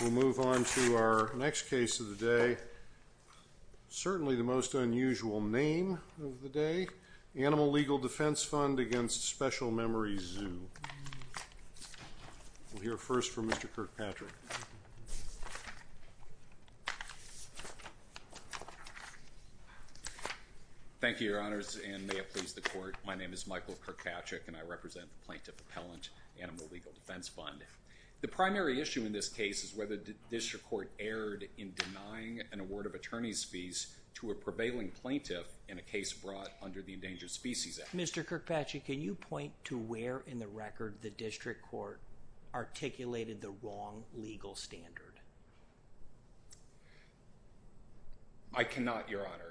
We'll move on to our next case of the day, certainly the most unusual name of the day, Animal Legal Defense Fund v. Special Memories Zoo. We'll hear first from Mr. Kirkpatrick. Thank you, Your Honors, and may it please the Court. My name is Michael Kirkpatrick, and I represent the Plaintiff Appellant Animal Legal Defense Fund. The primary issue in this case is whether the district court erred in denying an award of attorney's fees to a prevailing plaintiff in a case brought under the Endangered Species Act. Mr. Kirkpatrick, can you point to where in the record the district court articulated the wrong legal standard? I cannot, Your Honor.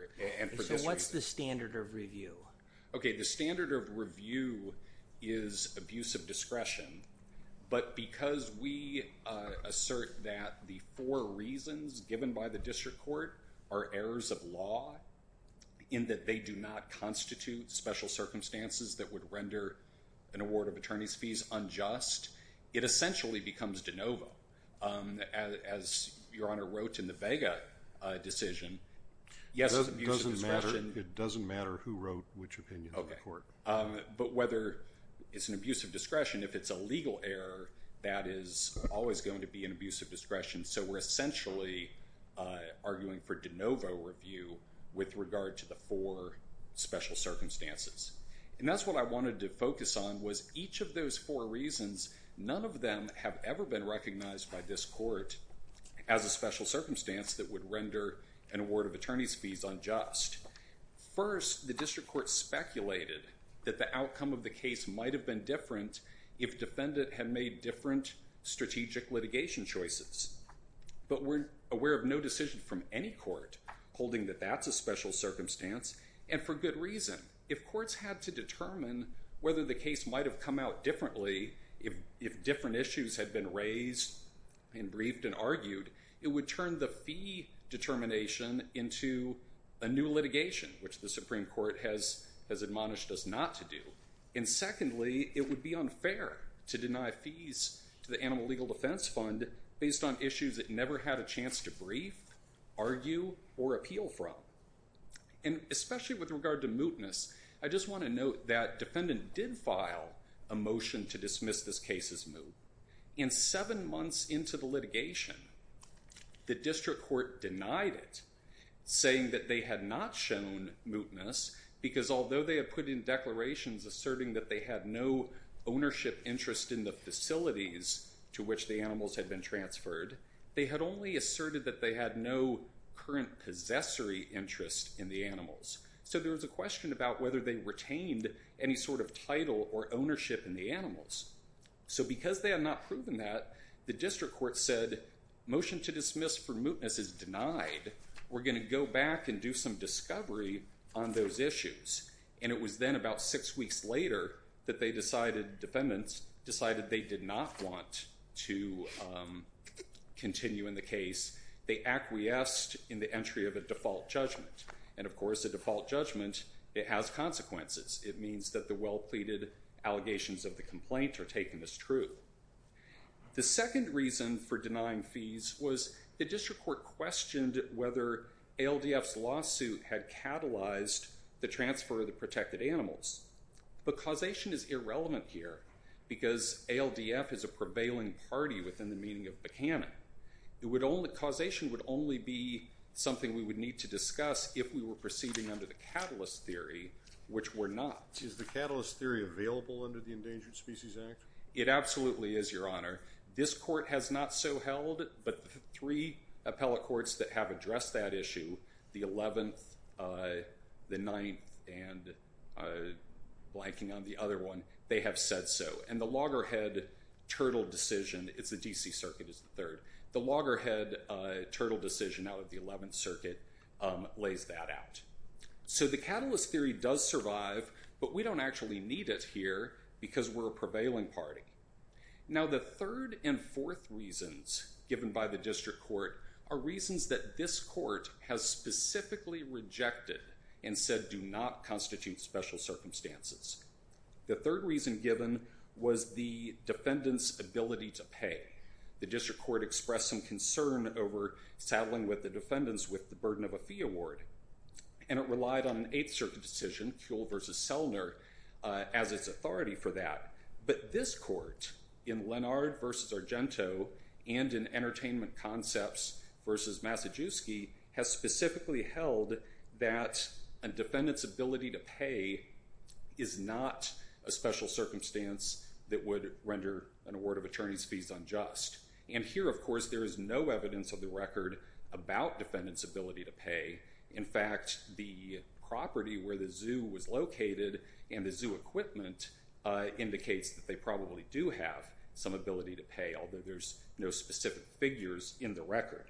So what's the standard of review? Okay, the standard of review is abuse of discretion, but because we assert that the four reasons given by the district court are errors of law, in that they do not constitute special circumstances that would render an award of attorney's fees unjust, it essentially becomes de novo. As Your Honor wrote in the Vega decision, yes, abuse of discretion. It doesn't matter who wrote which opinion of the court. Okay, but whether it's an abuse of discretion, if it's a legal error, that is always going to be an abuse of discretion. So we're essentially arguing for de novo review with regard to the four special circumstances. And that's what I wanted to focus on was each of those four reasons, none of them have ever been recognized by this court as a special circumstance that would render an award of attorney's fees unjust. First, the district court speculated that the outcome of the case might have been different if defendant had made different strategic litigation choices. But we're aware of no decision from any court holding that that's a special circumstance, and for good reason. If courts had to determine whether the case might have come out differently if different issues had been raised and briefed and argued, it would turn the fee determination into a new litigation, which the Supreme Court has admonished us not to do. And secondly, it would be unfair to deny fees to the Animal Legal Defense Fund based on issues it never had a chance to brief, argue, or appeal from. And especially with regard to mootness, I just want to note that defendant did file a motion to dismiss this case as moot. And seven months into the litigation, the district court denied it, saying that they had not shown mootness, because although they had put in declarations asserting that they had no ownership interest in the facilities to which the animals had been transferred, they had only asserted that they had no current possessory interest in the animals. So there was a question about whether they retained any sort of title or ownership in the animals. So because they had not proven that, the district court said, motion to dismiss for mootness is denied. We're going to go back and do some discovery on those issues. And it was then about six weeks later that they decided, defendants, decided they did not want to continue in the case. They acquiesced in the entry of a default judgment. And of course, a default judgment, it has consequences. It means that the well-pleaded allegations of the complaint are taken as truth. The second reason for denying fees was the district court questioned whether ALDF's lawsuit had catalyzed the transfer of the protected animals. But causation is irrelevant here, because ALDF is a prevailing party within the meaning of Buchanan. It would only, causation would only be something we would need to discuss if we were proceeding under the catalyst theory, which we're not. Is the catalyst theory available under the Endangered Species Act? It absolutely is, Your Honor. This court has not so held, but the three appellate courts that have addressed that issue, the 11th, the 9th, and blanking on the other one, they have said so. And the loggerhead turtle decision, it's the D.C. Circuit, is the third. The loggerhead turtle decision out of the 11th Circuit lays that out. So the catalyst theory does survive, but we don't actually need it here because we're a prevailing party. Now the third and fourth reasons given by the district court are reasons that this court has specifically rejected and said do not constitute special circumstances. The third reason given was the defendant's ability to pay. The district court expressed some concern over saddling with the defendants with the burden of a fee award. And it relied on an 8th Circuit decision, Kuehl v. Selner, as its authority for that. But this court, in Lennard v. Argento and in Entertainment Concepts v. Masajewski, has specifically held that a defendant's ability to pay is not a special circumstance that would render an award of attorney's fees unjust. And here, of course, there is no evidence of the record about defendant's ability to pay. In fact, the property where the zoo was located and the zoo equipment indicates that they probably do have some ability to pay, although there's no specific figures in the record.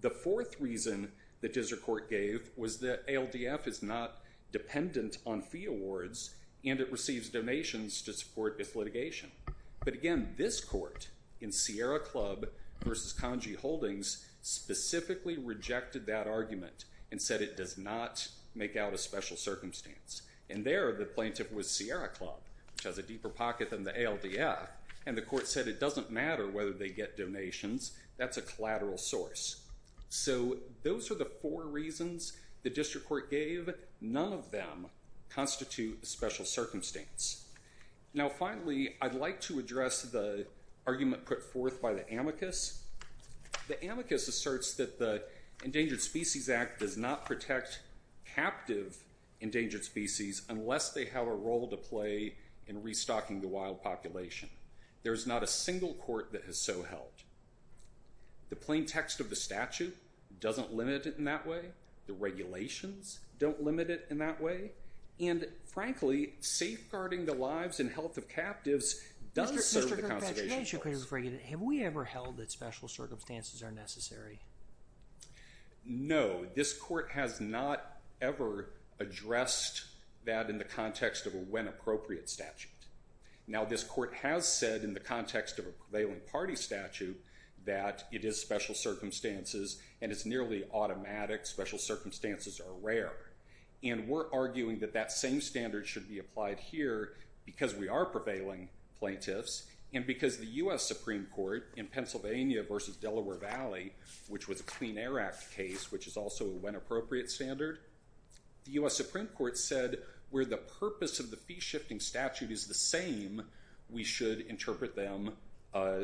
The fourth reason the district court gave was that ALDF is not dependent on fee awards and it receives donations to support its litigation. But again, this court, in Sierra Club v. Congy Holdings, specifically rejected that argument and said it does not make out a special circumstance. And there, the plaintiff was Sierra Club, which has a deeper pocket than the ALDF, and the court said it doesn't matter whether they get donations, that's a collateral source. So those are the four reasons the district court gave. None of them constitute a special circumstance. Now finally, I'd like to address the argument put forth by the amicus. The amicus asserts that the Endangered Species Act does not protect captive endangered species unless they have a role to play in restocking the wild population. There is not a single court that has so held. The plain text of the statute doesn't limit it in that way. The regulations don't limit it in that way. And frankly, safeguarding the lives and health of captives does serve the conservation purpose. Mr. Gertrude, have we ever held that special circumstances are necessary? No, this court has not ever addressed that in the context of a when appropriate statute. Now this court has said in the context of a prevailing party statute that it is special circumstances and it's nearly automatic, special circumstances are rare. And we're arguing that that same standard should be applied here because we are prevailing plaintiffs and because the U.S. Supreme Court in Pennsylvania versus Delaware Valley, which was a Clean Air Act case, which is also a when appropriate standard, the U.S. Supreme Court said where the purpose of the fee shifting statute is the same, we should interpret them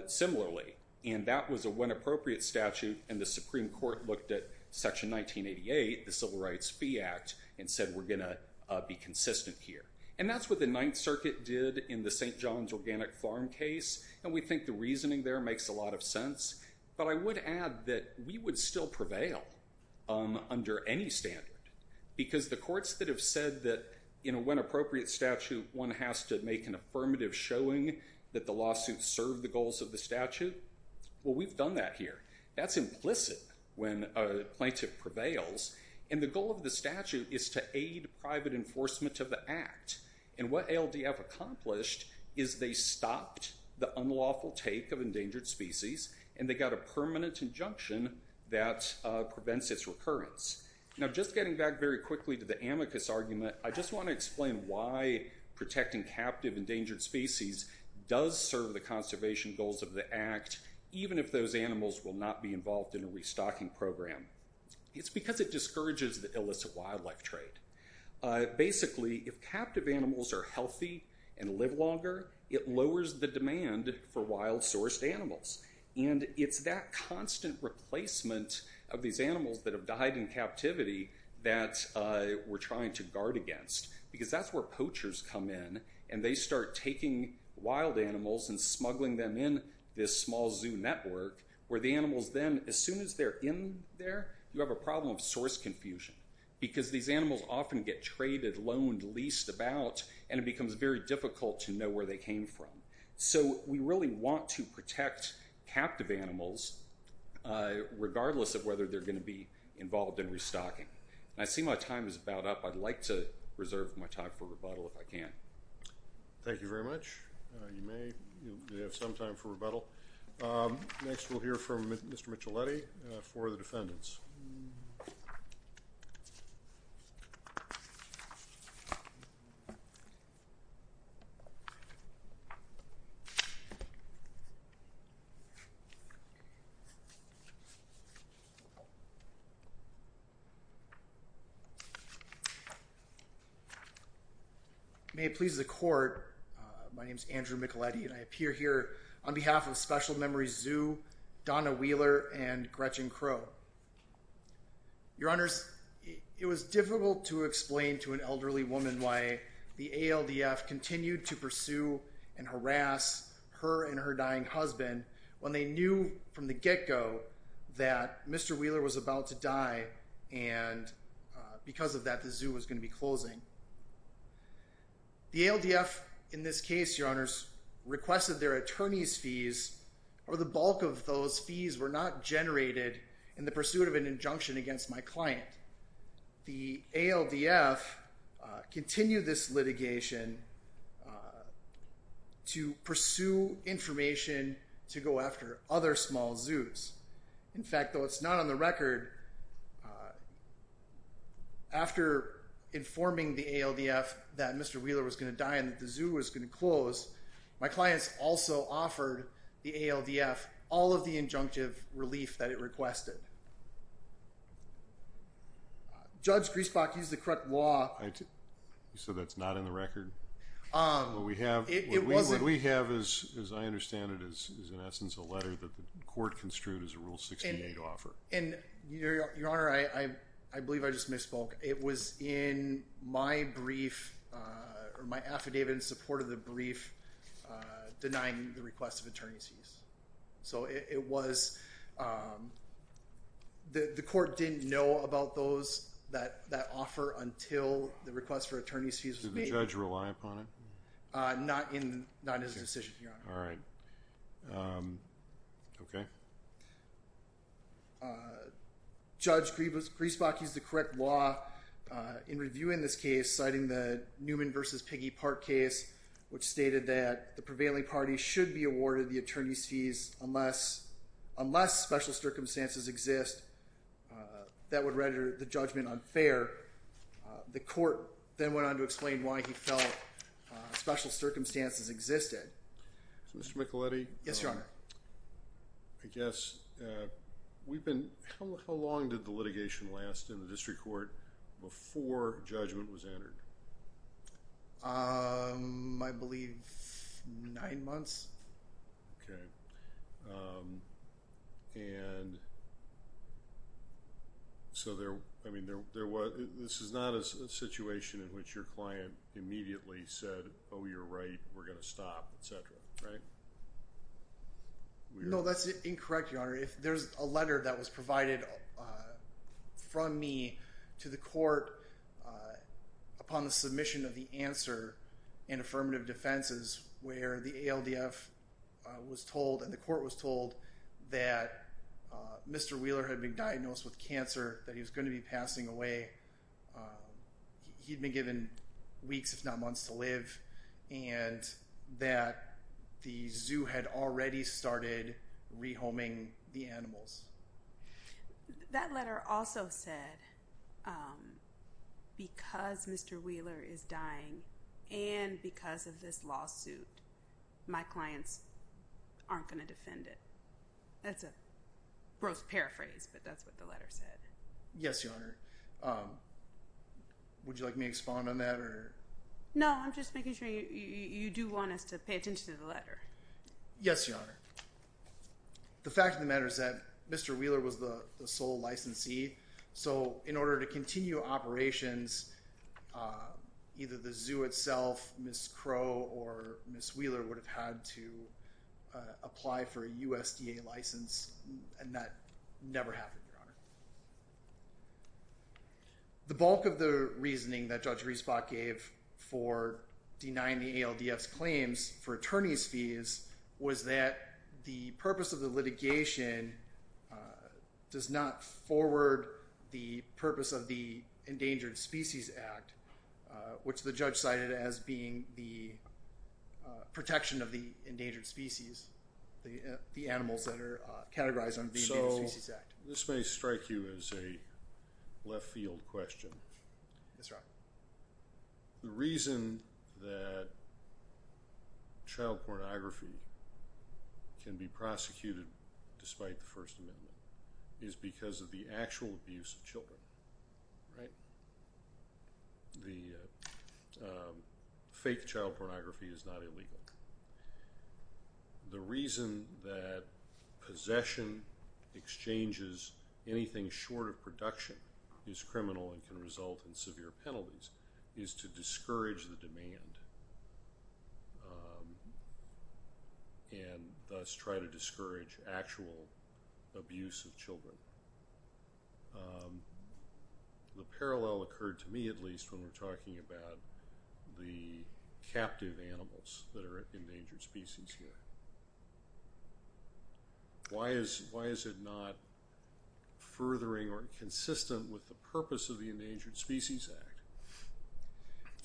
similarly. And that was a when appropriate statute and the Supreme Court looked at Section 1988, the Civil Rights Fee Act, and said we're going to be consistent here. And that's what the Ninth Circuit did in the St. John's Organic Farm case. And we think the reasoning there makes a lot of sense. But I would add that we would still prevail under any standard because the courts that have said that in a when appropriate statute, one has to make an affirmative showing that the lawsuit served the goals of the statute, well, we've done that here. That's implicit when a plaintiff prevails. And the goal of the statute is to aid private enforcement of the act. And what ALDF accomplished is they stopped the unlawful take of endangered species and they got a permanent injunction that prevents its recurrence. Now, just getting back very quickly to the amicus argument, I just want to explain why protecting captive endangered species does serve the conservation goals of the act, even if those animals will not be involved in a restocking program. It's because it discourages the illicit wildlife trade. Basically, if captive animals are healthy and live longer, it lowers the demand for wild sourced animals. And it's that constant replacement of these animals that have died in captivity that we're trying to guard against. Because that's where poachers come in and they start taking wild animals and smuggling them in this small zoo network, where the animals then, as soon as they're in there, you have a problem of source confusion. Because these animals often get traded, loaned, leased about, and it becomes very difficult to know where they came from. So we really want to protect captive animals, regardless of whether they're going to be involved in restocking. And I see my time is about up. I'd like to reserve my time for rebuttal if I can. Thank you very much. You may have some time for rebuttal. Next, we'll hear from Mr. Micheletti for the defendants. May it please the court, my name is Andrew Micheletti and I appear here on behalf of Special Memories Zoo, Donna Wheeler, and Gretchen Crow. Your Honors, it was difficult to explain to an elderly woman why the ALDF continued to pursue and harass her and her dying husband when they knew from the get-go that Mr. Wheeler was about to die and because of that, the zoo was going to be closing. The ALDF, in this case, Your Honors, requested their attorney's fees, or the bulk of those fees were not generated in the pursuit of an injunction against my client. The ALDF continued this litigation to pursue information to go after other small zoos. In fact, though it's not on the record, after informing the ALDF that Mr. Wheeler was going to die and that the zoo was going to close, my clients also offered the ALDF all of the injunctive relief that it requested. Judge Griesbach used the correct law. So that's not in the record? What we have is, as I understand it, is in essence a letter that the court construed as a Rule 68 offer. And Your Honor, I believe I just misspoke. It was in my brief or my affidavit in support of the brief denying the request of attorney's fees. So it was, the court didn't know about those, that offer until the request for attorney's fees was made. Did the judge rely upon it? Not in his decision, Your Honor. All right. Okay. Judge Griesbach used the correct law in reviewing this case, citing the Newman versus Piggy Park case, which stated that the prevailing party should be awarded the attorney's fees unless special circumstances exist that would render the judgment unfair. The court then went on to explain why he felt special circumstances existed. Mr. Micheletti? Yes, Your Honor. I guess we've been, how long did the litigation last in the district court before judgment was entered? I believe nine months. Okay. And so there, I mean, there was, this is not a situation in which your client immediately said, oh, you're right, we're going to stop, et cetera, right? No, that's incorrect, Your Honor. If there's a letter that was provided from me to the court upon the submission of the answer and affirmative defenses, where the ALDF was told and the court was told that Mr. Wheeler had been diagnosed with cancer, that he was going to be passing away. Um, he'd been given weeks, if not months to live and that the zoo had already started rehoming the animals. That letter also said, um, because Mr. Wheeler is dying and because of this lawsuit, my clients aren't going to defend it. That's a gross paraphrase, but that's what the letter said, Your Honor. Um, would you like me to expound on that or? No, I'm just making sure you do want us to pay attention to the letter. Yes, Your Honor. The fact of the matter is that Mr. Wheeler was the sole licensee. So in order to continue operations, either the zoo itself, Ms. Crow or Ms. Wheeler would have had to The bulk of the reasoning that Judge Riesbach gave for denying the ALDF's claims for attorney's fees was that the purpose of the litigation, uh, does not forward the purpose of the Endangered Species Act, uh, which the judge cited as being the, uh, protection of the endangered species, the, uh, the animals that are, uh, categorized under the Endangered Species Act. This may strike you as a left field question. Yes, Your Honor. The reason that child pornography can be prosecuted despite the First Amendment is because of the actual abuse of children, right? The, uh, fake child pornography is not illegal. The reason that possession exchanges anything short of production is criminal and can result in severe penalties is to discourage the demand, and thus try to discourage actual abuse of children. Um, the parallel occurred to me, at least, when we're talking about the captive animals that are Endangered Species Act. Why is, why is it not furthering or consistent with the purpose of the Endangered Species Act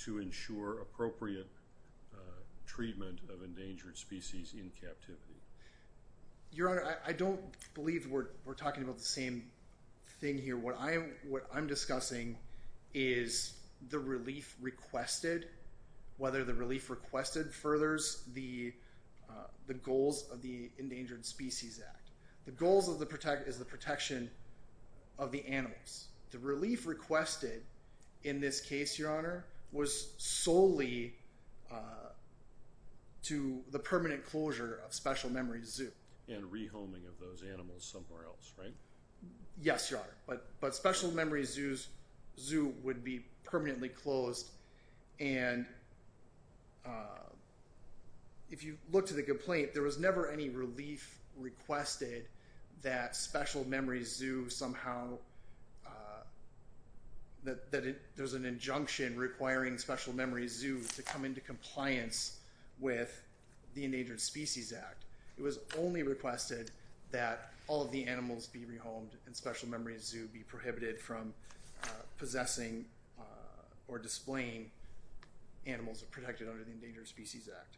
to ensure appropriate, uh, treatment of endangered species in captivity? Your Honor, I, I don't believe we're, we're talking about the same thing here. What I'm, what I'm discussing is the relief requested, whether the relief requested furthers the, uh, the goals of the Endangered Species Act. The goals of the protect is the protection of the animals. The relief requested in this case, Your Honor, was solely, uh, to the permanent closure of Special Memories Zoo. And re-homing of those animals somewhere else, right? Yes, Your Honor, but, but Special Memories Zoo's, zoo would be permanently closed. And, uh, if you look to the complaint, there was never any relief requested that Special Memories Zoo somehow, uh, that, that there's an injunction requiring Special Memories Zoo to come into compliance with the Endangered Species Act. It was only requested that all of the animals be re-homed and Special Memories Zoo be prohibited from, uh, possessing, uh, or displaying animals protected under the Endangered Species Act.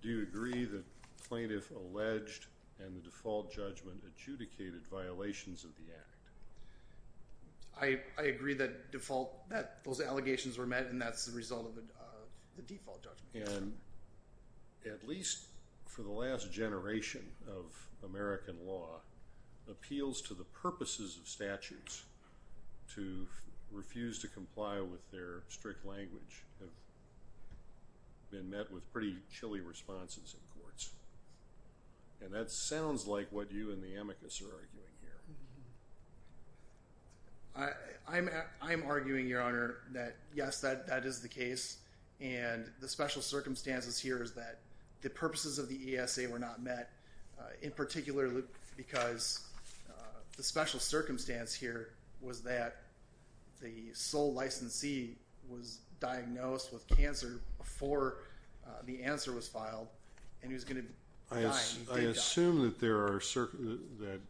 Do you agree that plaintiff alleged and the default judgment adjudicated violations of the Act? I, I agree that default, that those allegations were met and that's the result of the, uh, the default judgment. And at least for the last generation of American law, appeals to the purposes of statutes to refuse to comply with their strict language have been met with pretty chilly responses in courts. And that sounds like what you and the case and the special circumstances here is that the purposes of the ESA were not met, uh, in particular because, uh, the special circumstance here was that the sole licensee was diagnosed with cancer before, uh, the answer was filed and he was going to die. I assume that there are that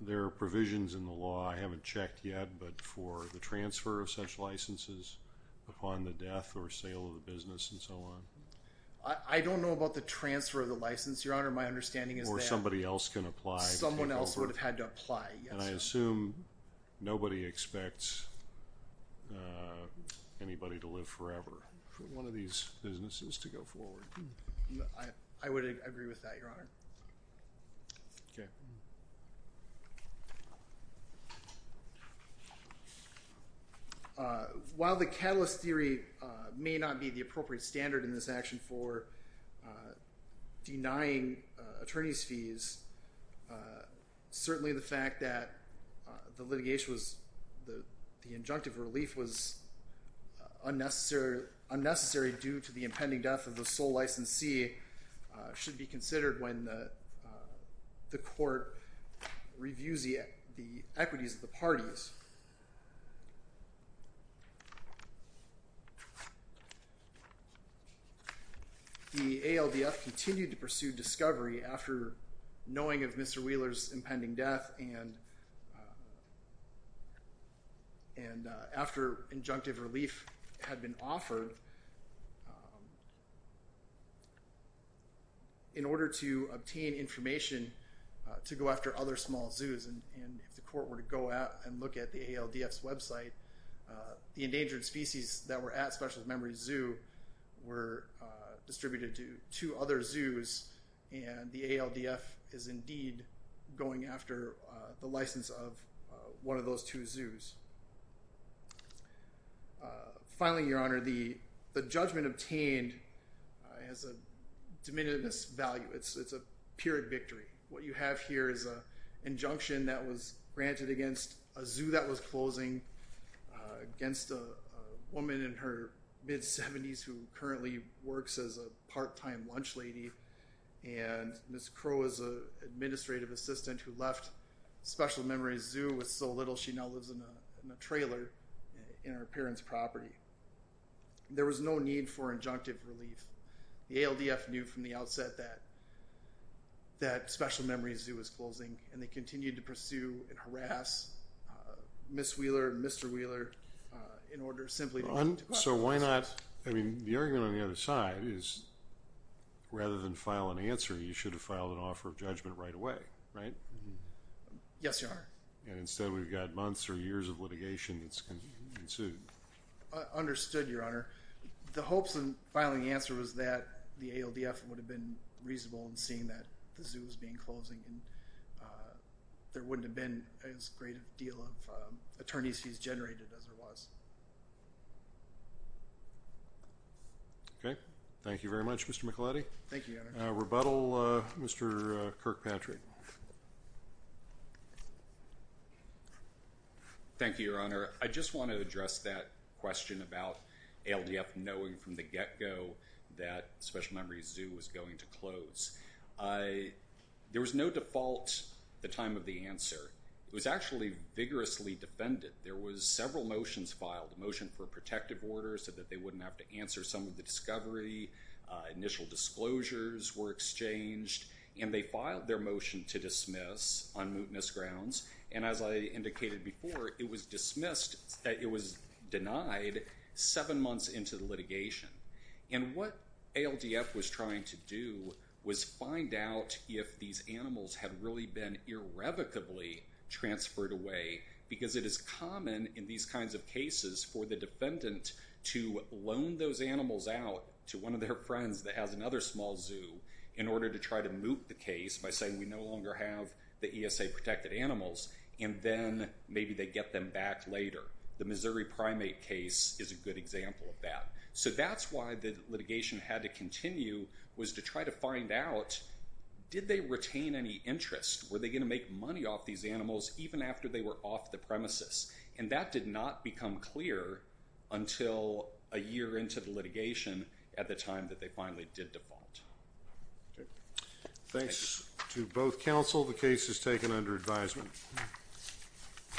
there are provisions in the law I haven't checked yet, but for the transfer of such licenses upon the death or sale of the business and so on. I, I don't know about the transfer of the license, Your Honor. My understanding is that somebody else can apply. Someone else would have had to apply. And I assume nobody expects, uh, anybody to live forever for one of these businesses to go forward. I, I would agree with that, Your Honor. Okay. Uh, while the catalyst theory, uh, may not be the appropriate standard in this action for, uh, denying, uh, attorney's fees, uh, certainly the fact that, uh, the litigation was the, the injunctive relief was unnecessary, unnecessary due to the impending death of the sole licensee, uh, should be considered when the, uh, the court reviews the, the equities of the parties. The ALDF continued to pursue discovery after knowing of Mr. Wheeler's impending death and, uh, and, uh, after injunctive relief had been offered, in order to obtain information, uh, to go after other small zoos. And, and if the court were to go out and look at the ALDF's website, uh, the endangered species that were at Specialist Zoo were, uh, distributed to two other zoos. And the ALDF is indeed going after, uh, the license of, uh, one of those two zoos. Uh, finally, Your Honor, the, the judgment obtained, uh, has a de minimis value. It's, it's a period victory. What you have here is a injunction that was granted against a zoo that was closing, uh, against a woman in her mid seventies who currently works as a part-time lunch lady. And Ms. Crow is a administrative assistant who left Special Memories Zoo with so little, she now lives in a trailer in her parents' property. There was no need for injunctive relief. The ALDF knew from the outset that, that Special Memories Zoo was closing and they continued to pursue and harass, uh, Ms. Wheeler, Mr. Wheeler, uh, in order simply to go after them. So why not, I mean, the argument on the other side is rather than file an answer, you should have filed an offer of judgment right away, right? Yes, Your Honor. And instead we've got months or years of litigation that's ensued. Understood, Your Honor. The hopes in filing the answer was that the ALDF would have been reasonable in seeing that the zoo was being closing and, uh, there wouldn't have been as great a deal of, um, attorneys fees generated as there was. Okay. Thank you very much, Mr. Micheletti. Thank you, Your Honor. Uh, rebuttal, uh, Mr. Kirkpatrick. Thank you, Your Honor. I just want to address that question about ALDF knowing from the get-go that Special Memories Zoo was going to close. I, there was no default the time of the answer. It was actually vigorously defended. There was several motions filed, a motion for a protective order so that they wouldn't have to answer some of the discovery. Uh, initial disclosures were exchanged and they filed their motion to dismiss on mootness grounds. And as I indicated before, it was dismissed, uh, it was denied seven months into the litigation. And what ALDF was trying to do was find out if these animals had really been irrevocably transferred away because it is common in these kinds of cases for the defendant to loan those animals out to one of their friends that has another small zoo in order to try to moot the case by saying we no longer have the ESA protected animals and then maybe they get them back later. The Missouri primate case is a good example of that. So that's why the litigation had to continue was to try to find out did they retain any interest? Were they going to make money off these animals even after they were off the premises? And that did not become clear until a year into the litigation at the time that they finally did default. Okay. Thanks to both counsel. The case is taken under advisement.